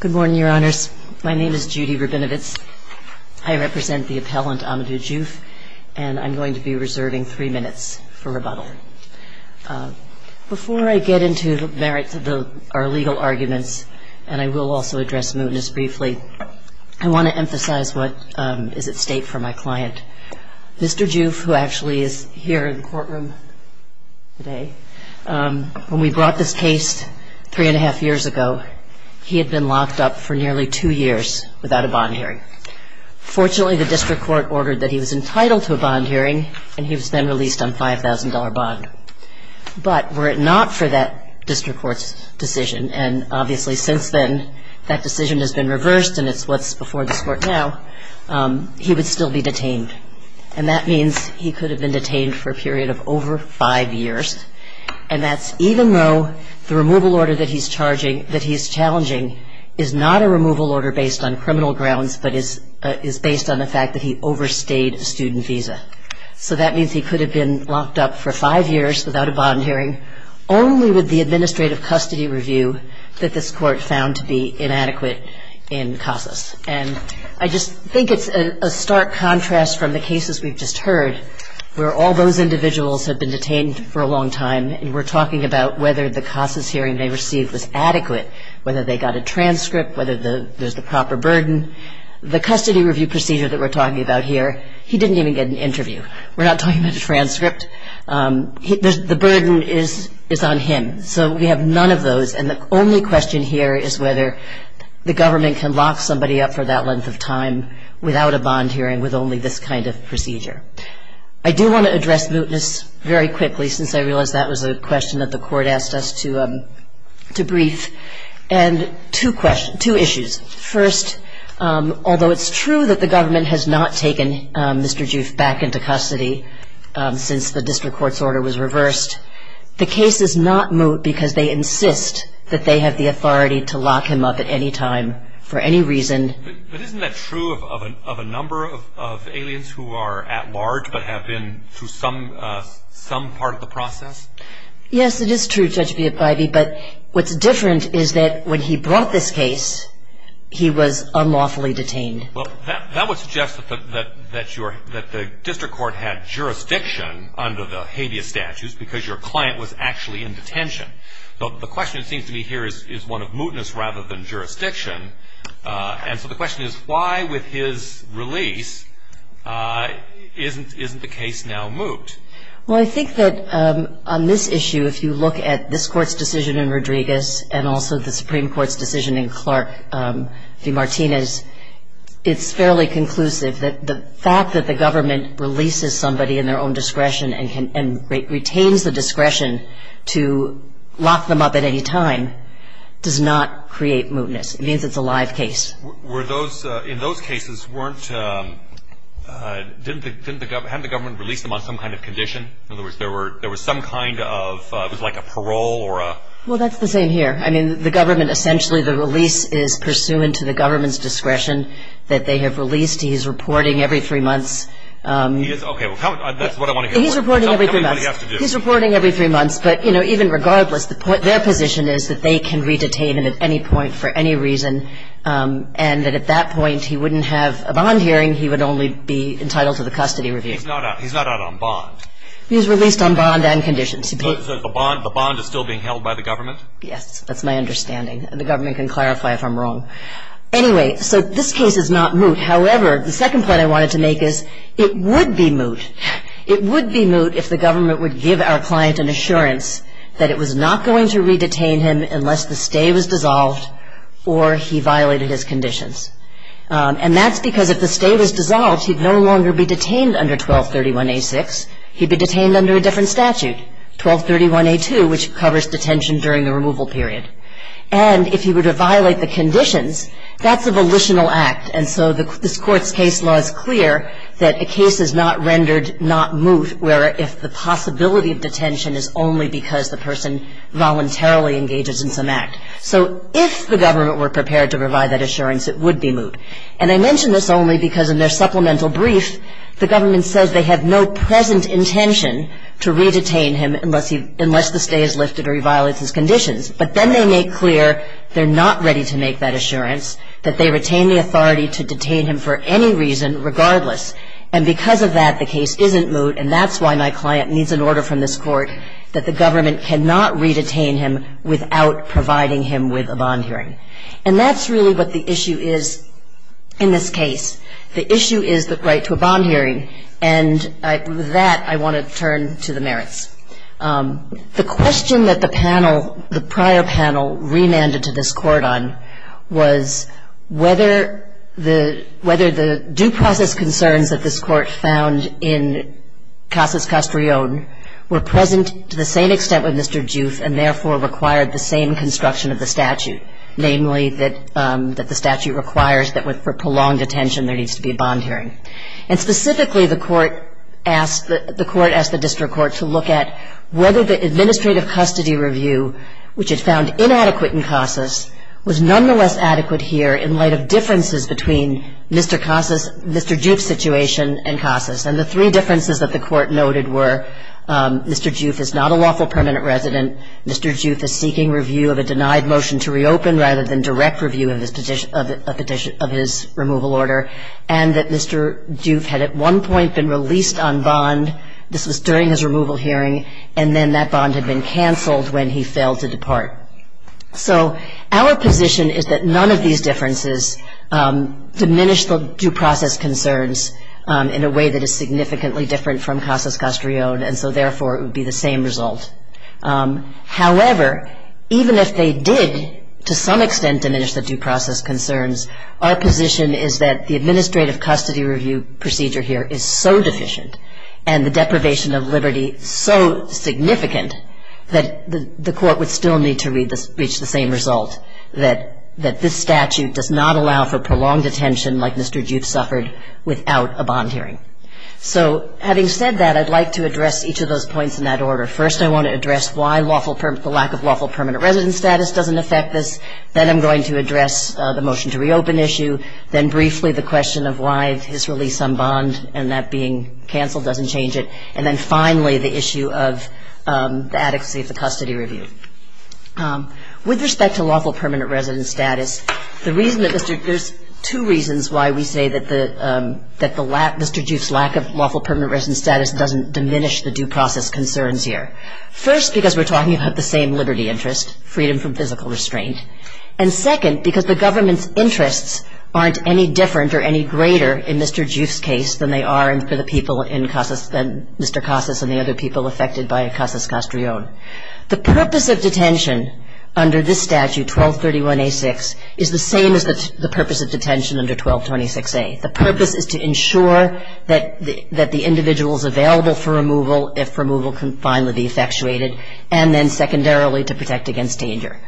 Good morning, Your Honors. My name is Judy Rabinowitz. I represent the appellant, Amadou Diouf, and I'm going to be reserving three minutes for rebuttal. Before I get into the merits of our legal arguments, and I will also address mootness briefly, I want to emphasize what is at stake for my client. Mr. Diouf, who actually is here in the courtroom today, when we brought this case three and a half years ago, he had been locked up for nearly two years without a bond hearing. Fortunately, the district court ordered that he was entitled to a bond hearing, and he was then released on a $5,000 bond. But were it not for that district court's decision, and obviously since then that decision has been reversed and it's what's before this court now, he would still be detained. And that means he could have been detained for a period of over five years. And that's even though the removal order that he's challenging is not a removal order based on criminal grounds, but is based on the fact that he overstayed a student visa. So that means he could have been locked up for five years without a bond hearing only with the administrative custody review that this court found to be inadequate in CASAS. And I just think it's a stark contrast from the cases we've just heard, where all those individuals have been detained for a long time, and we're talking about whether the CASAS hearing they received was adequate, whether they got a transcript, whether there's the proper burden. The custody review procedure that we're talking about here, he didn't even get an interview. We're not talking about a transcript. The burden is on him. So we have none of those, and the only question here is whether the government can lock somebody up for that length of time without a bond hearing with only this kind of procedure. I do want to address mootness very quickly, since I realize that was a question that the court asked us to brief, and two issues. First, although it's true that the government has not taken Mr. Juef back into custody since the district court's order was reversed, the case is not moot because they insist that they have the authority to lock him up at any time for any reason. But isn't that true of a number of aliens who are at large but have been through some part of the process? Yes, it is true, Judge Biafivi, but what's different is that when he brought this case, he was unlawfully detained. Well, that would suggest that the district court had jurisdiction under the habeas statutes because your client was actually in detention. So the question, it seems to me here, is one of mootness rather than jurisdiction, and so the question is why with his release isn't the case now moot? Well, I think that on this issue, if you look at this Court's decision in Rodriguez and also the Supreme Court's decision in Clark v. Martinez, it's fairly conclusive that the fact that the government releases somebody in their own discretion and retains the discretion to lock them up at any time does not create mootness. It means it's a live case. In those cases, hadn't the government released them on some kind of condition? In other words, there was some kind of – it was like a parole or a – Well, that's the same here. I mean, the government – essentially the release is pursuant to the government's discretion that they have released. He's reporting every three months. Okay, well, that's what I want to hear more about. He's reporting every three months. He's reporting every three months, but, you know, even regardless, their position is that they can re-detain him at any point for any reason and that at that point he wouldn't have a bond hearing. He would only be entitled to the custody review. He's not out on bond. He was released on bond and conditions. So the bond is still being held by the government? Yes, that's my understanding. The government can clarify if I'm wrong. Anyway, so this case is not moot. However, the second point I wanted to make is it would be moot. It would be moot if the government would give our client an assurance that it was not going to re-detain him unless the stay was dissolved or he violated his conditions. And that's because if the stay was dissolved, he'd no longer be detained under 1231A6. He'd be detained under a different statute, 1231A2, which covers detention during the removal period. And if he were to violate the conditions, that's a volitional act. And so this Court's case law is clear that a case is not rendered not moot if the possibility of detention is only because the person voluntarily engages in some act. So if the government were prepared to provide that assurance, it would be moot. And I mention this only because in their supplemental brief, the government says they have no present intention to re-detain him unless the stay is lifted or he violates his conditions. But then they make clear they're not ready to make that assurance, that they retain the authority to detain him for any reason regardless. And because of that, the case isn't moot, and that's why my client needs an order from this Court that the government cannot re-detain him without providing him with a bond hearing. And that's really what the issue is in this case. The issue is the right to a bond hearing. And with that, I want to turn to the merits. The question that the panel, the prior panel, remanded to this Court on was whether the due process concerns that this Court found in Casas Castrillon were present to the same extent with Mr. Juth and therefore required the same construction of the statute, namely that the statute requires that for prolonged detention there needs to be a bond hearing. And specifically, the Court asked the district court to look at whether the administrative custody review, which it found inadequate in Casas, was nonetheless adequate here in light of differences between Mr. Juth's situation and Casas. And the three differences that the Court noted were Mr. Juth is not a lawful permanent resident, Mr. Juth is seeking review of a denied motion to reopen rather than direct review of his removal order, and that Mr. Juth had at one point been released on bond. This was during his removal hearing. And then that bond had been canceled when he failed to depart. So our position is that none of these differences diminish the due process concerns in a way that is significantly different from Casas Castrillon, and so therefore it would be the same result. However, even if they did to some extent diminish the due process concerns, our position is that the administrative custody review procedure here is so deficient and the deprivation of liberty so significant that the Court would still need to reach the same result, that this statute does not allow for prolonged detention like Mr. Juth suffered without a bond hearing. So having said that, I'd like to address each of those points in that order. First, I want to address why the lack of lawful permanent resident status doesn't affect this. Then I'm going to address the motion to reopen issue, then briefly the question of why his release on bond and that being canceled doesn't change it, and then finally the issue of the adequacy of the custody review. With respect to lawful permanent resident status, there's two reasons why we say that Mr. Juth's lack of lawful permanent resident status doesn't diminish the due process concerns here. First, because we're talking about the same liberty interest, freedom from physical restraint. And second, because the government's interests aren't any different or any greater in Mr. Juth's case than they are for the people in Mr. Casas and the other people affected by Casas-Castrillon. The purpose of detention under this statute, 1231A6, is the same as the purpose of detention under 1226A. The purpose is to ensure that the individual is available for removal if removal can finally be effectuated, and then secondarily to protect against danger.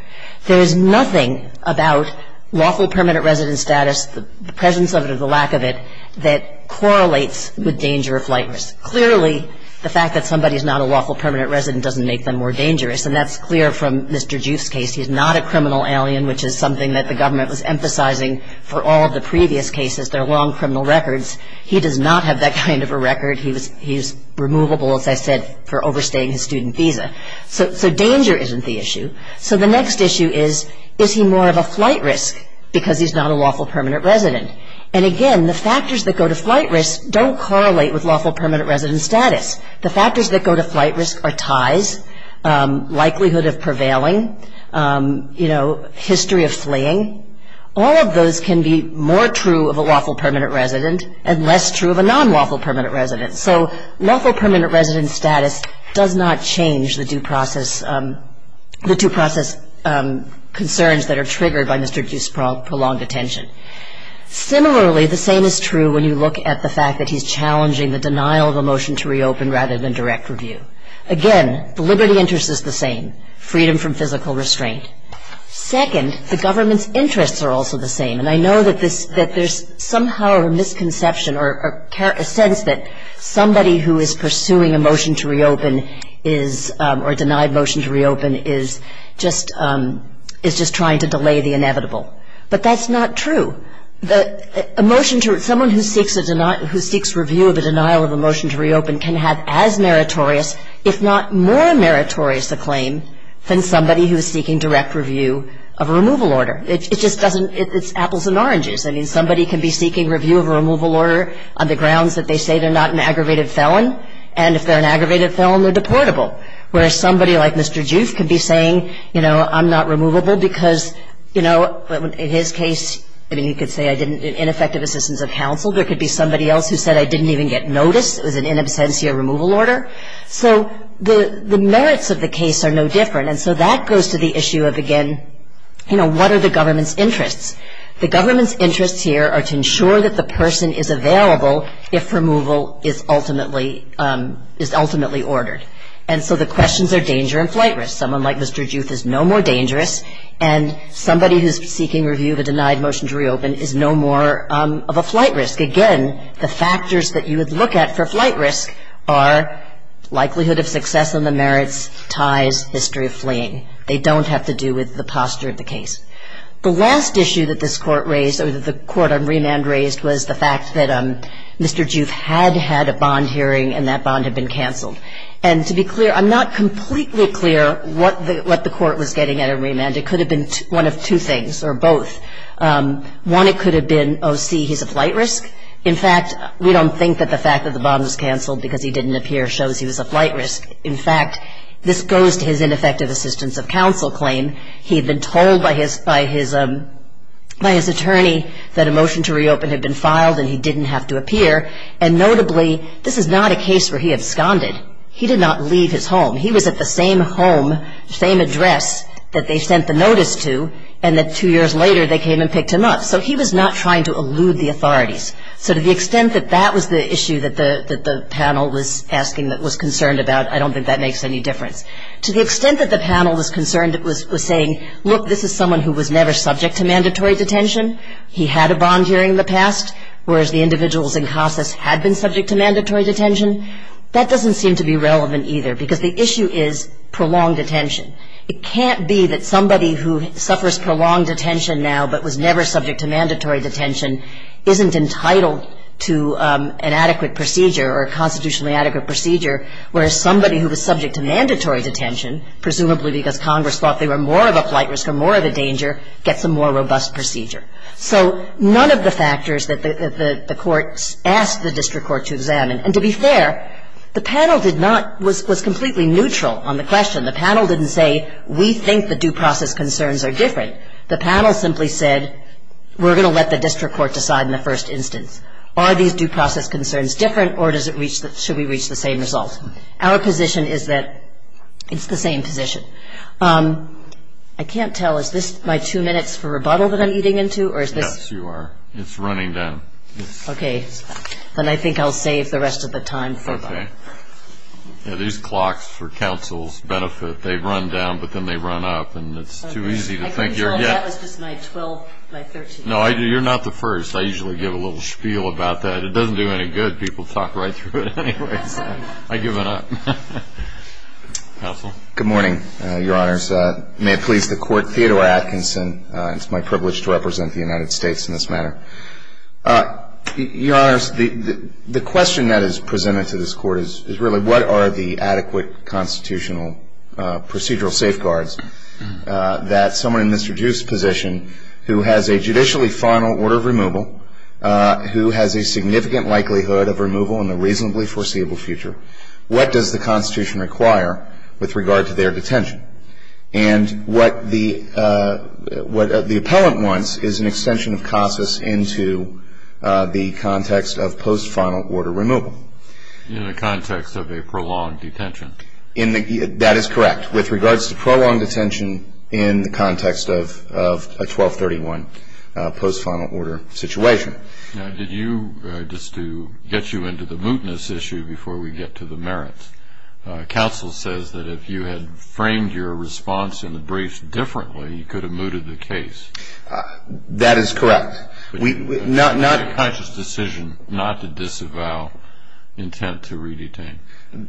There is nothing about lawful permanent resident status, the presence of it or the lack of it, that correlates with danger or flight risk. Clearly, the fact that somebody is not a lawful permanent resident doesn't make them more dangerous, and that's clear from Mr. Juth's case. He's not a criminal alien, which is something that the government was emphasizing for all of the previous cases. They're long criminal records. He does not have that kind of a record. He's removable, as I said, for overstaying his student visa. So danger isn't the issue. So the next issue is, is he more of a flight risk because he's not a lawful permanent resident? And again, the factors that go to flight risk don't correlate with lawful permanent resident status. The factors that go to flight risk are ties, likelihood of prevailing, you know, history of fleeing. All of those can be more true of a lawful permanent resident and less true of a non-lawful permanent resident. So lawful permanent resident status does not change the due process concerns that are triggered by Mr. Juth's prolonged detention. Similarly, the same is true when you look at the fact that he's challenging the denial of a motion to reopen rather than direct review. Again, the liberty interest is the same, freedom from physical restraint. Second, the government's interests are also the same. And I know that there's somehow a misconception or a sense that somebody who is pursuing a motion to reopen or a denied motion to reopen is just trying to delay the inevitable. But that's not true. Someone who seeks review of a denial of a motion to reopen can have as meritorious, if not more meritorious a claim than somebody who is seeking direct review of a removal order. It just doesn't ‑‑ it's apples and oranges. I mean, somebody can be seeking review of a removal order on the grounds that they say they're not an aggravated felon. And if they're an aggravated felon, they're deportable. Whereas somebody like Mr. Juth could be saying, you know, I'm not removable because, you know, in his case, I mean, you could say I didn't get ineffective assistance of counsel. There could be somebody else who said I didn't even get notice. It was an in absentia removal order. So the merits of the case are no different. And so that goes to the issue of, again, you know, what are the government's interests? The government's interests here are to ensure that the person is available if removal is ultimately ordered. And so the questions are danger and flight risk. Someone like Mr. Juth is no more dangerous, and somebody who is seeking review of a denied motion to reopen is no more of a flight risk. Again, the factors that you would look at for flight risk are likelihood of success on the merits, ties, history of fleeing. They don't have to do with the posture of the case. The last issue that this Court raised or the Court on remand raised was the fact that Mr. Juth had had a bond hearing and that bond had been canceled. And to be clear, I'm not completely clear what the Court was getting at in remand. It could have been one of two things or both. One, it could have been, oh, see, he's a flight risk. In fact, we don't think that the fact that the bond was canceled because he didn't appear shows he was a flight risk. In fact, this goes to his ineffective assistance of counsel claim. He had been told by his attorney that a motion to reopen had been filed and he didn't have to appear. And notably, this is not a case where he absconded. He did not leave his home. He was at the same home, same address that they sent the notice to and that two years later they came and picked him up. So he was not trying to elude the authorities. So to the extent that that was the issue that the panel was asking that was concerned about, I don't think that makes any difference. To the extent that the panel was concerned, it was saying, look, this is someone who was never subject to mandatory detention. He had a bond hearing in the past, whereas the individuals in CASAS had been subject to mandatory detention. That doesn't seem to be relevant either, because the issue is prolonged detention. It can't be that somebody who suffers prolonged detention now but was never subject to mandatory detention isn't entitled to an adequate procedure or a constitutionally adequate procedure, whereas somebody who was subject to mandatory detention, presumably because Congress thought they were more of a flight risk or more of a danger, gets a more robust procedure. So none of the factors that the court asked the district court to examine. And to be fair, the panel did not – was completely neutral on the question. The panel didn't say, we think the due process concerns are different. The panel simply said, we're going to let the district court decide in the first instance. Are these due process concerns different or should we reach the same result? Our position is that it's the same position. I can't tell. Is this my two minutes for rebuttal that I'm eating into, or is this – Yes, you are. It's running down. Okay. Then I think I'll save the rest of the time for that. Okay. These clocks for counsel's benefit, they run down, but then they run up. And it's too easy to think you're getting – That was just my 12th, my 13th. No, you're not the first. I usually give a little spiel about that. It doesn't do any good. People talk right through it anyways. I give it up. Counsel? Good morning, Your Honors. May it please the Court, Theodore Atkinson. It's my privilege to represent the United States in this manner. Your Honors, the question that is presented to this Court is really, what are the adequate constitutional procedural safeguards that someone in Mr. Duke's position, who has a judicially final order of removal, who has a significant likelihood of removal in the reasonably foreseeable future, what does the Constitution require with regard to their detention? And what the appellant wants is an extension of CASAS into the context of post-final order removal. In the context of a prolonged detention. That is correct. With regards to prolonged detention in the context of a 1231 post-final order situation. Now, did you, just to get you into the mootness issue before we get to the merits, counsel says that if you had framed your response in the briefs differently, you could have mooted the case. That is correct. Not a conscious decision not to disavow intent to re-detain.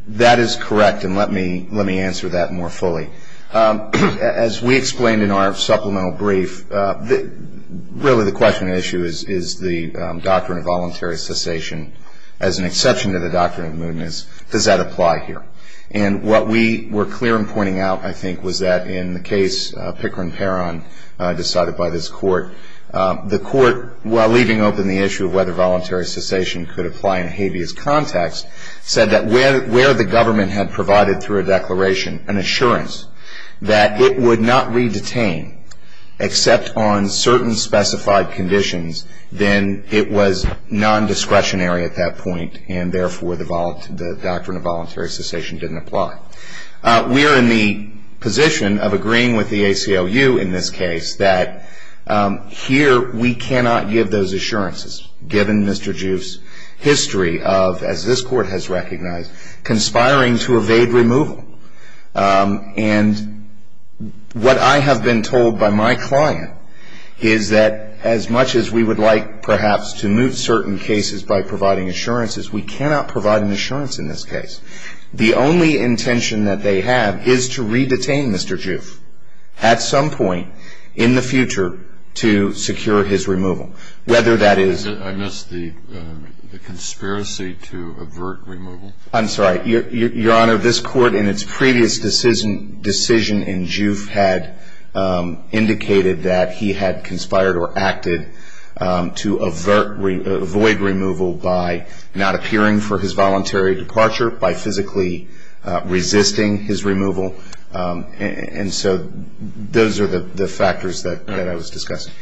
That is correct, and let me answer that more fully. As we explained in our supplemental brief, really the question and issue is, is the doctrine of voluntary cessation, as an exception to the doctrine of mootness, does that apply here? And what we were clear in pointing out, I think, was that in the case Pickering-Perron decided by this Court, the Court, while leaving open the issue of whether voluntary cessation could apply in a habeas context, said that where the government had provided through a declaration an assurance that it would not re-detain except on certain specified conditions, then it was non-discretionary at that point, and therefore the doctrine of voluntary cessation didn't apply. We are in the position of agreeing with the ACLU in this case that here we cannot give those assurances, given Mr. Juiff's history of, as this Court has recognized, conspiring to evade removal. And what I have been told by my client is that as much as we would like perhaps to moot certain cases by providing assurances, we cannot provide an assurance in this case. The only intention that they have is to re-detain Mr. Juiff at some point in the future to secure his removal, whether that is. I missed the conspiracy to avert removal. I'm sorry. Your Honor, this Court in its previous decision in Juiff had indicated that he had conspired or acted to avoid removal by not appearing for his voluntary departure, by physically resisting his removal. And so those are the factors that I was discussing.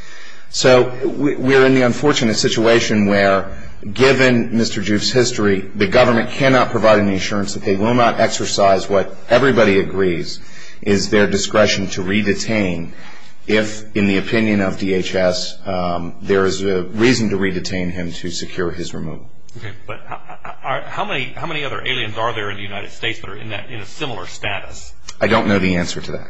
So we are in the unfortunate situation where, given Mr. Juiff's history, the government cannot provide an assurance that they will not exercise what everybody agrees is their discretion to re-detain if, in the opinion of DHS, there is a reason to re-detain him to secure his removal. Okay. But how many other aliens are there in the United States that are in a similar status? I don't know the answer to that.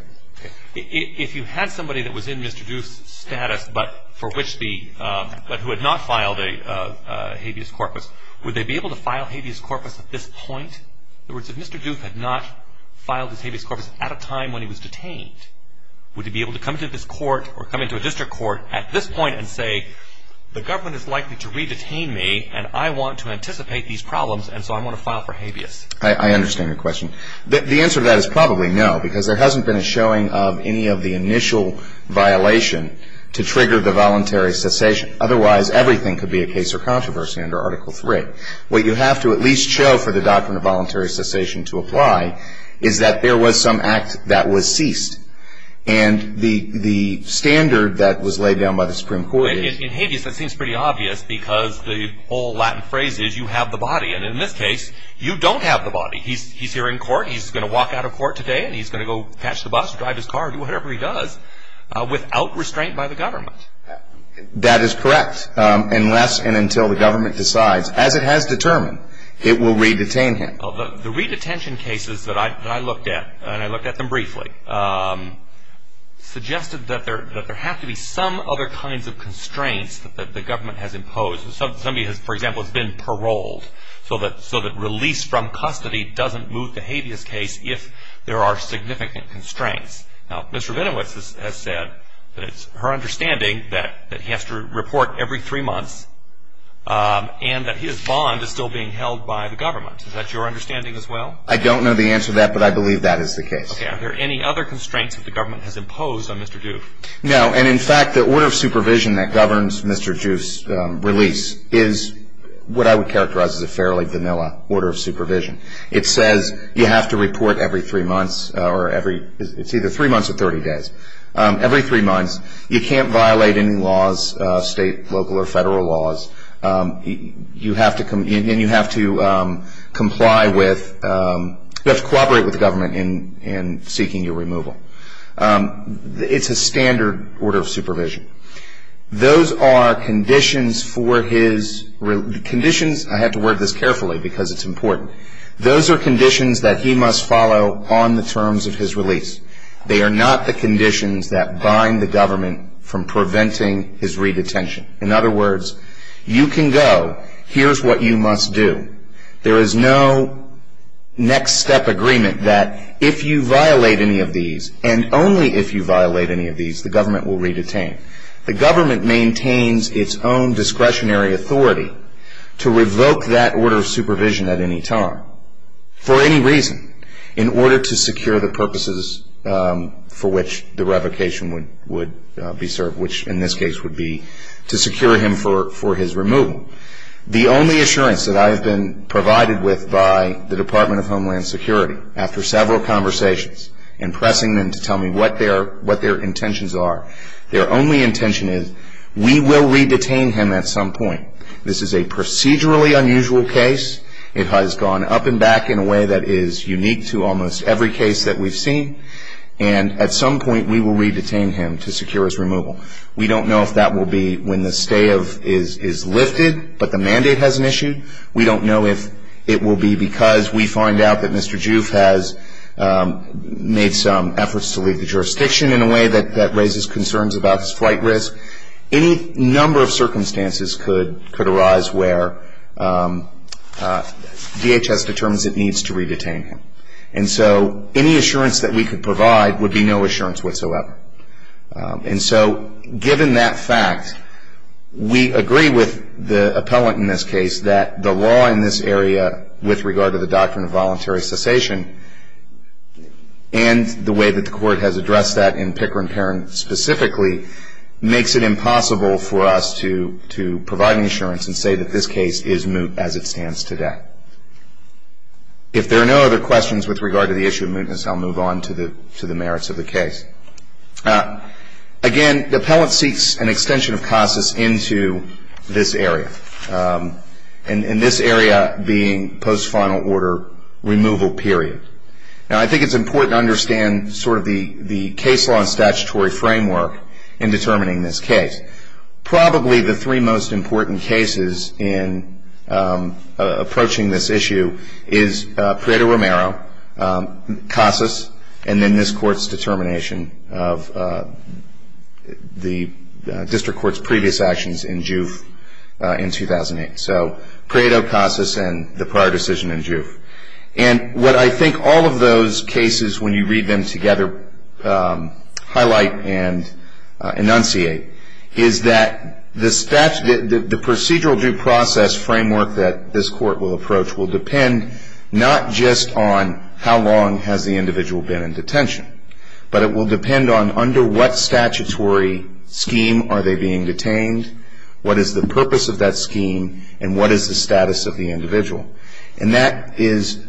If you had somebody that was in Mr. Juiff's status but who had not filed a habeas corpus, would they be able to file a habeas corpus at this point? In other words, if Mr. Juiff had not filed his habeas corpus at a time when he was detained, would he be able to come to this Court or come into a district court at this point and say, the government is likely to re-detain me, and I want to anticipate these problems, and so I want to file for habeas? I understand your question. The answer to that is probably no, because there hasn't been a showing of any of the initial violation to trigger the voluntary cessation. Otherwise, everything could be a case of controversy under Article III. What you have to at least show for the doctrine of voluntary cessation to apply is that there was some act that was ceased. And the standard that was laid down by the Supreme Court is... In habeas, that seems pretty obvious, because the old Latin phrase is, you have the body. And in this case, you don't have the body. He's here in court. He's going to walk out of court today, and he's going to go catch the bus or drive his car or do whatever he does without restraint by the government. That is correct, unless and until the government decides. As it has determined, it will re-detain him. The re-detention cases that I looked at, and I looked at them briefly, suggested that there have to be some other kinds of constraints that the government has imposed. Somebody, for example, has been paroled so that release from custody doesn't move the habeas case if there are significant constraints. Now, Mr. Venowitz has said that it's her understanding that he has to report every three months and that his bond is still being held by the government. Is that your understanding as well? I don't know the answer to that, but I believe that is the case. Okay. Are there any other constraints that the government has imposed on Mr. Duke? No, and, in fact, the order of supervision that governs Mr. Duke's release is what I would characterize as a fairly vanilla order of supervision. It says you have to report every three months, or every, it's either three months or 30 days. Every three months, you can't violate any laws, state, local, or federal laws. You have to comply with, you have to cooperate with the government in seeking your removal. It's a standard order of supervision. Those are conditions for his, conditions, I have to word this carefully because it's important. Those are conditions that he must follow on the terms of his release. They are not the conditions that bind the government from preventing his redetention. In other words, you can go, here's what you must do. There is no next step agreement that if you violate any of these, and only if you violate any of these, the government will redetain. The government maintains its own discretionary authority to revoke that order of supervision at any time, for any reason, in order to secure the purposes for which the revocation would be served, which, in this case, would be to secure him for his removal. The only assurance that I have been provided with by the Department of Homeland Security, after several conversations and pressing them to tell me what their intentions are, their only intention is, we will redetain him at some point. This is a procedurally unusual case. It has gone up and back in a way that is unique to almost every case that we've seen, and at some point, we will redetain him to secure his removal. We don't know if that will be when the stay is lifted, but the mandate hasn't issued. We don't know if it will be because we find out that Mr. Juf has made some efforts to leave the jurisdiction, in a way that raises concerns about his flight risk. Any number of circumstances could arise where DHS determines it needs to redetain him. And so any assurance that we could provide would be no assurance whatsoever. And so, given that fact, we agree with the appellant in this case that the law in this area, with regard to the doctrine of voluntary cessation, and the way that the court has addressed that in Pickering-Perrin specifically, makes it impossible for us to provide an assurance and say that this case is moot as it stands today. If there are no other questions with regard to the issue of mootness, I'll move on to the merits of the case. Again, the appellant seeks an extension of CASAS into this area, and this area being post-final order removal period. Now, I think it's important to understand sort of the case law and statutory framework in determining this case. Probably the three most important cases in approaching this issue is Prado-Romero, CASAS, and then this Court's determination of the district court's previous actions in Juve in 2008. So, Prado, CASAS, and the prior decision in Juve. And what I think all of those cases, when you read them together, highlight and enunciate, is that the procedural due process framework that this Court will approach will depend not just on how long has the individual been in detention, but it will depend on under what statutory scheme are they being detained, what is the purpose of that scheme, and what is the status of the individual. And that is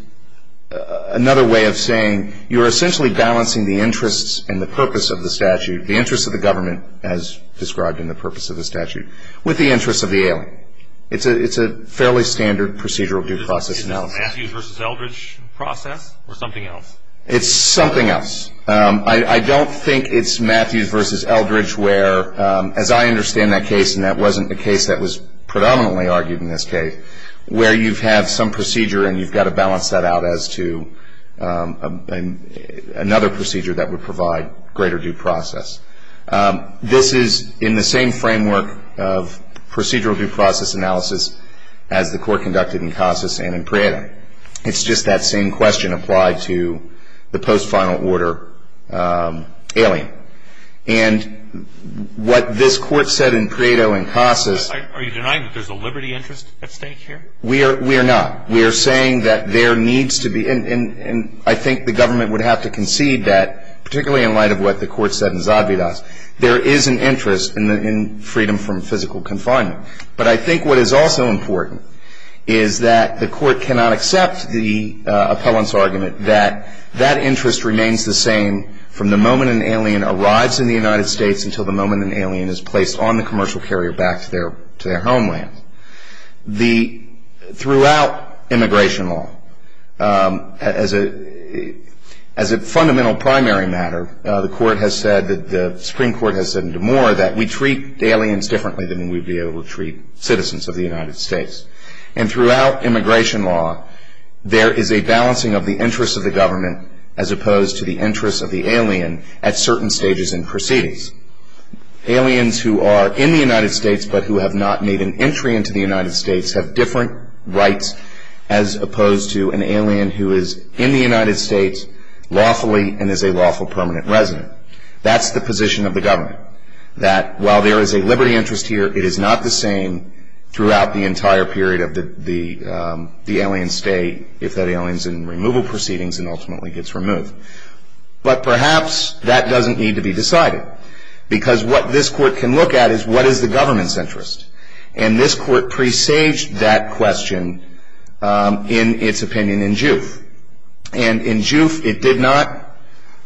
another way of saying you're essentially balancing the interests and the purpose of the statute, the interests of the government as described in the purpose of the statute, with the interests of the alien. It's a fairly standard procedural due process analysis. Is it a Matthews v. Eldridge process or something else? It's something else. I don't think it's Matthews v. Eldridge where, as I understand that case, and that wasn't the case that was predominantly argued in this case, where you have some procedure and you've got to balance that out as to another procedure that would provide greater due process. This is in the same framework of procedural due process analysis as the Court conducted in CASAS and in Prado. It's just that same question applied to the post-final order alien. And what this Court said in Prado and CASAS- Are you denying that there's a liberty interest at stake here? We are not. We are saying that there needs to be, and I think the government would have to concede that, particularly in light of what the Court said in Zadvydas, there is an interest in freedom from physical confinement. But I think what is also important is that the Court cannot accept the appellant's argument that that interest remains the same from the moment an alien arrives in the United States until the moment an alien is placed on the commercial carrier back to their homeland. Throughout immigration law, as a fundamental primary matter, the Supreme Court has said in DeMoor that we treat aliens differently than we would be able to treat citizens of the United States. And throughout immigration law, there is a balancing of the interests of the government as opposed to the interests of the alien at certain stages and proceedings. Aliens who are in the United States but who have not made an entry into the United States have different rights as opposed to an alien who is in the United States lawfully and is a lawful permanent resident. That's the position of the government, that while there is a liberty interest here, it is not the same throughout the entire period of the alien stay if that alien is in removal proceedings and ultimately gets removed. But perhaps that doesn't need to be decided because what this Court can look at is what is the government's interest. And this Court presaged that question in its opinion in Juif. And in Juif, it did not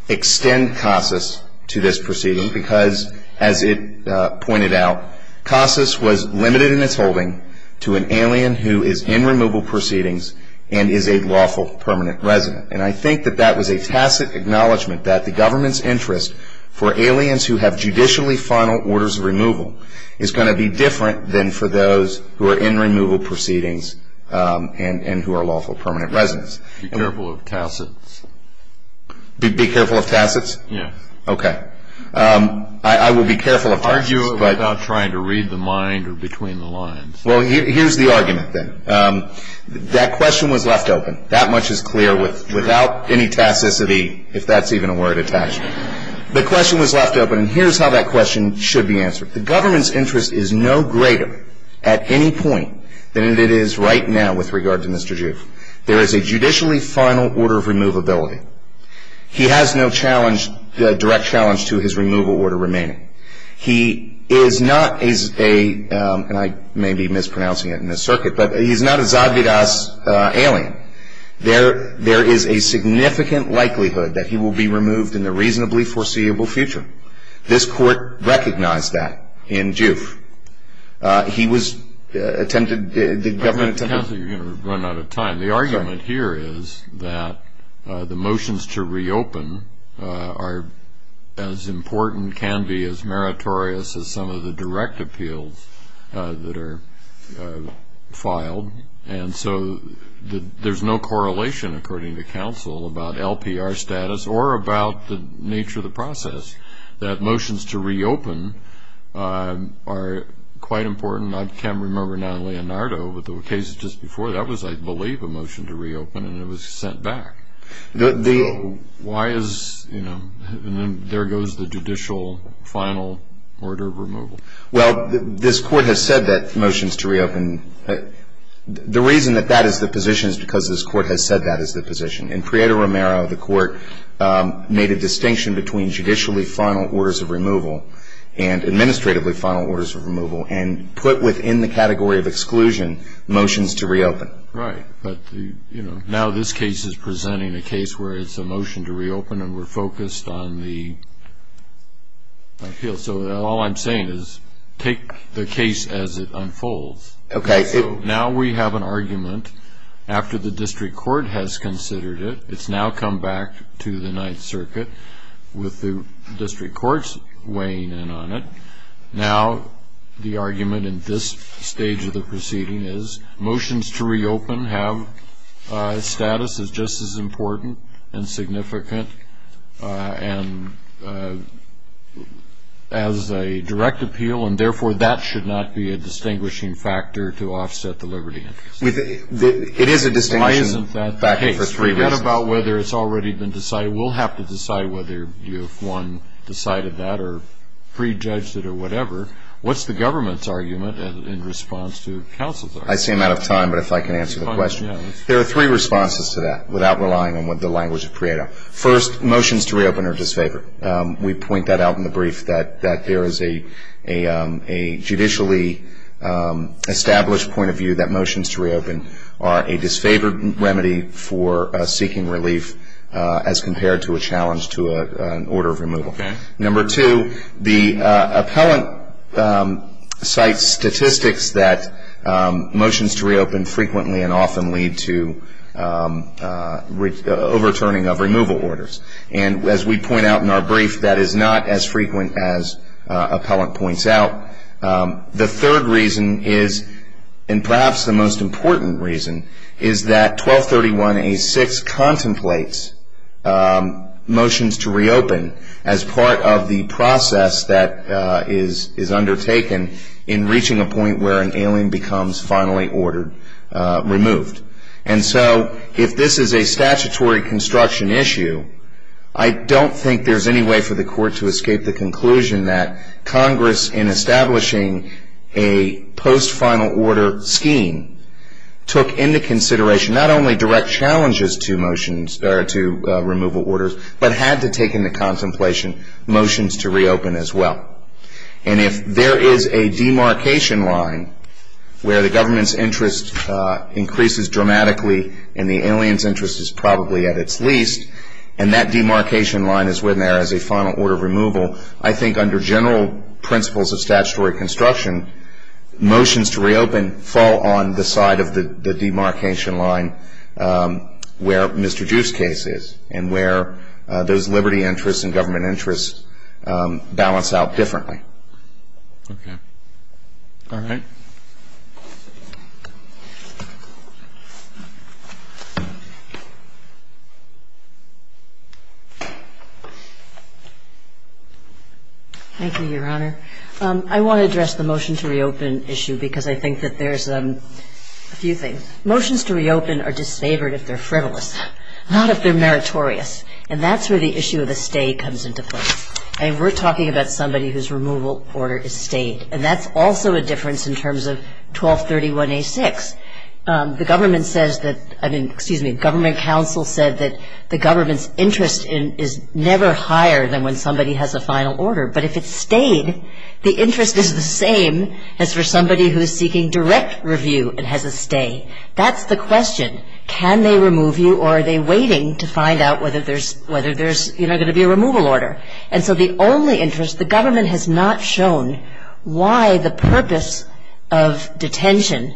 extend CASAS to this proceeding because, as it pointed out, CASAS was limited in its holding to an alien who is in removal proceedings and is a lawful permanent resident. And I think that that was a tacit acknowledgment that the government's interest for aliens who have judicially final orders of removal is going to be different than for those who are in removal proceedings and who are lawful permanent residents. Be careful of tacits. Be careful of tacits? Yes. Okay. I will be careful of tacits. Argue about trying to read the mind or between the lines. Well, here's the argument, then. That question was left open. That much is clear without any tacicity, if that's even a word attached. The question was left open, and here's how that question should be answered. The government's interest is no greater at any point than it is right now with regard to Mr. Juif. There is a judicially final order of removability. He has no challenge, direct challenge, to his removal order remaining. He is not a, and I may be mispronouncing it in this circuit, but he is not a Zavidas alien. There is a significant likelihood that he will be removed in the reasonably foreseeable future. This court recognized that in Juif. He was attempted, the government attempted. Counselor, you're going to run out of time. The argument here is that the motions to reopen are as important, can be as meritorious as some of the direct appeals that are filed. And so there's no correlation, according to counsel, about LPR status or about the nature of the process, that motions to reopen are quite important. I can't remember now, Leonardo, but the cases just before that was, I believe, a motion to reopen, and it was sent back. Why is, you know, and then there goes the judicial final order of removal. Well, this court has said that motions to reopen, the reason that that is the position is because this court has said that is the position. In Prieto-Romero, the court made a distinction between judicially final orders of removal and administratively final orders of removal, and put within the category of exclusion motions to reopen. Right. But, you know, now this case is presenting a case where it's a motion to reopen, and we're focused on the appeals. So all I'm saying is take the case as it unfolds. Okay. So now we have an argument after the district court has considered it. It's now come back to the Ninth Circuit with the district courts weighing in on it. Now the argument in this stage of the proceeding is motions to reopen have status as just as important and significant as a direct appeal, and therefore that should not be a distinguishing factor to offset the liberty interest. It is a distinguishing factor. Forget about whether it's already been decided. We'll have to decide whether one decided that or prejudged it or whatever. What's the government's argument in response to counsel's argument? I see I'm out of time, but if I can answer the question. There are three responses to that without relying on the language of Prieto. First, motions to reopen are disfavored. We point that out in the brief that there is a judicially established point of view that motions to reopen are a disfavored remedy for seeking relief as compared to a challenge to an order of removal. Okay. Number two, the appellant cites statistics that motions to reopen frequently and often lead to overturning of removal orders. And as we point out in our brief, that is not as frequent as appellant points out. The third reason is, and perhaps the most important reason, is that 1231A6 contemplates motions to reopen as part of the process that is undertaken in reaching a point where an alien becomes finally ordered removed. And so if this is a statutory construction issue, I don't think there's any way for the court to escape the conclusion that Congress, in establishing a post-final order scheme, took into consideration not only direct challenges to removal orders, but had to take into contemplation motions to reopen as well. And if there is a demarcation line where the government's interest increases dramatically and the alien's interest is probably at its least, and that demarcation line is when there is a final order of removal, I think under general principles of statutory construction, motions to reopen fall on the side of the demarcation line where Mr. Juist's case is and where those liberty interests and government interests balance out differently. Thank you, Your Honor. I want to address the motion to reopen issue because I think that there's a few things. Motions to reopen are disfavored if they're frivolous, not if they're meritorious. And that's where the issue of the stay comes into play. And we're talking about somebody who's removed from office, and we're talking about somebody who's removed from office, and that's also a difference in terms of 1231A6. The government says that the government's interest is never higher than when somebody has a final order. But if it's stayed, the interest is the same as for somebody who is seeking direct review and has a stay. That's the question. Can they remove you or are they waiting to find out whether there's going to be a removal order? And so the only interest, the government has not shown why the purpose of detention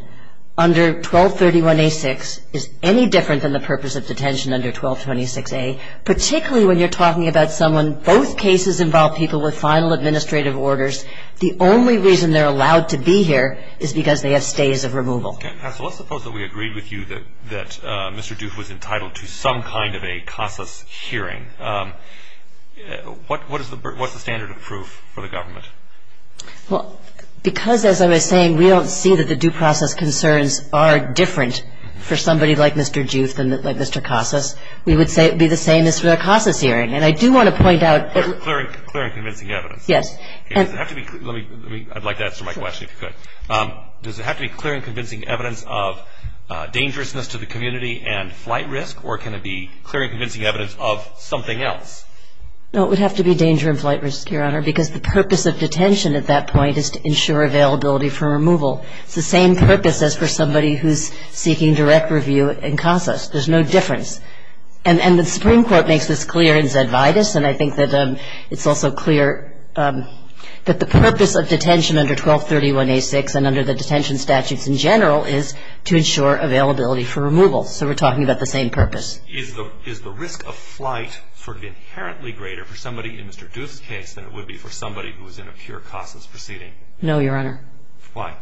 under 1231A6 is any different than the purpose of detention under 1226A, particularly when you're talking about someone, both cases involve people with final administrative orders. The only reason they're allowed to be here is because they have stays of removal. Let's suppose that we agreed with you that Mr. Duth was entitled to some kind of a CASAS hearing. What's the standard of proof for the government? Well, because, as I was saying, we don't see that the due process concerns are different for somebody like Mr. Duth than like Mr. CASAS, we would say it would be the same as for the CASAS hearing. And I do want to point out... Clear and convincing evidence. Yes. Does it have to be clear? I'd like to answer my question, if you could. Does it have to be clear and convincing evidence of dangerousness to the community and flight risk, or can it be clear and convincing evidence of something else? No, it would have to be danger and flight risk, Your Honor, because the purpose of detention at that point is to ensure availability for removal. It's the same purpose as for somebody who's seeking direct review in CASAS. There's no difference. And the Supreme Court makes this clear in Zedvitus, and I think that it's also clear that the purpose of detention under 1231A6 and under the detention statutes in general is to ensure availability for removal. So we're talking about the same purpose. Is the risk of flight sort of inherently greater for somebody in Mr. Duth's case than it would be for somebody who was in a pure CASAS proceeding? No, Your Honor. Why?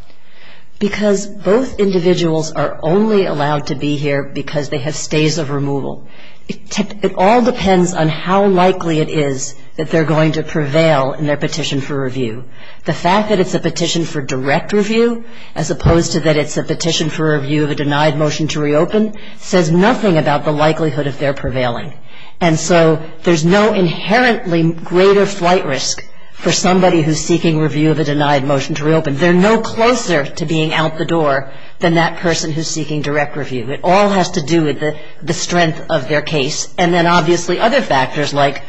Because both individuals are only allowed to be here because they have stays of removal. It all depends on how likely it is that they're going to prevail in their petition for review. The fact that it's a petition for direct review, as opposed to that it's a petition for review of a denied motion to reopen, says nothing about the likelihood of their prevailing. And so there's no inherently greater flight risk for somebody who's seeking review of a denied motion to reopen. They're no closer to being out the door than that person who's seeking direct review. It all has to do with the strength of their case. And then obviously other factors like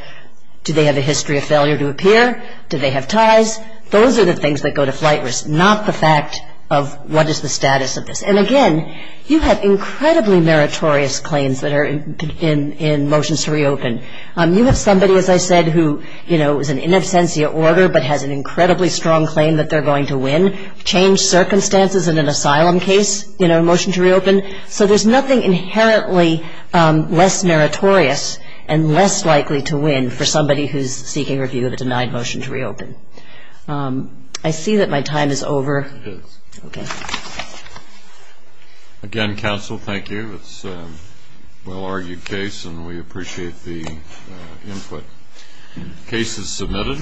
do they have a history of failure to appear? Do they have ties? Those are the things that go to flight risk, not the fact of what is the status of this. And, again, you have incredibly meritorious claims that are in motions to reopen. You have somebody, as I said, who, you know, is in in absentia order but has an incredibly strong claim that they're going to win, change circumstances in an asylum case in a motion to reopen. So there's nothing inherently less meritorious and less likely to win for somebody who's seeking review of a denied motion to reopen. I see that my time is over. It is. Okay. Again, counsel, thank you. It's a well-argued case, and we appreciate the input. Case is submitted.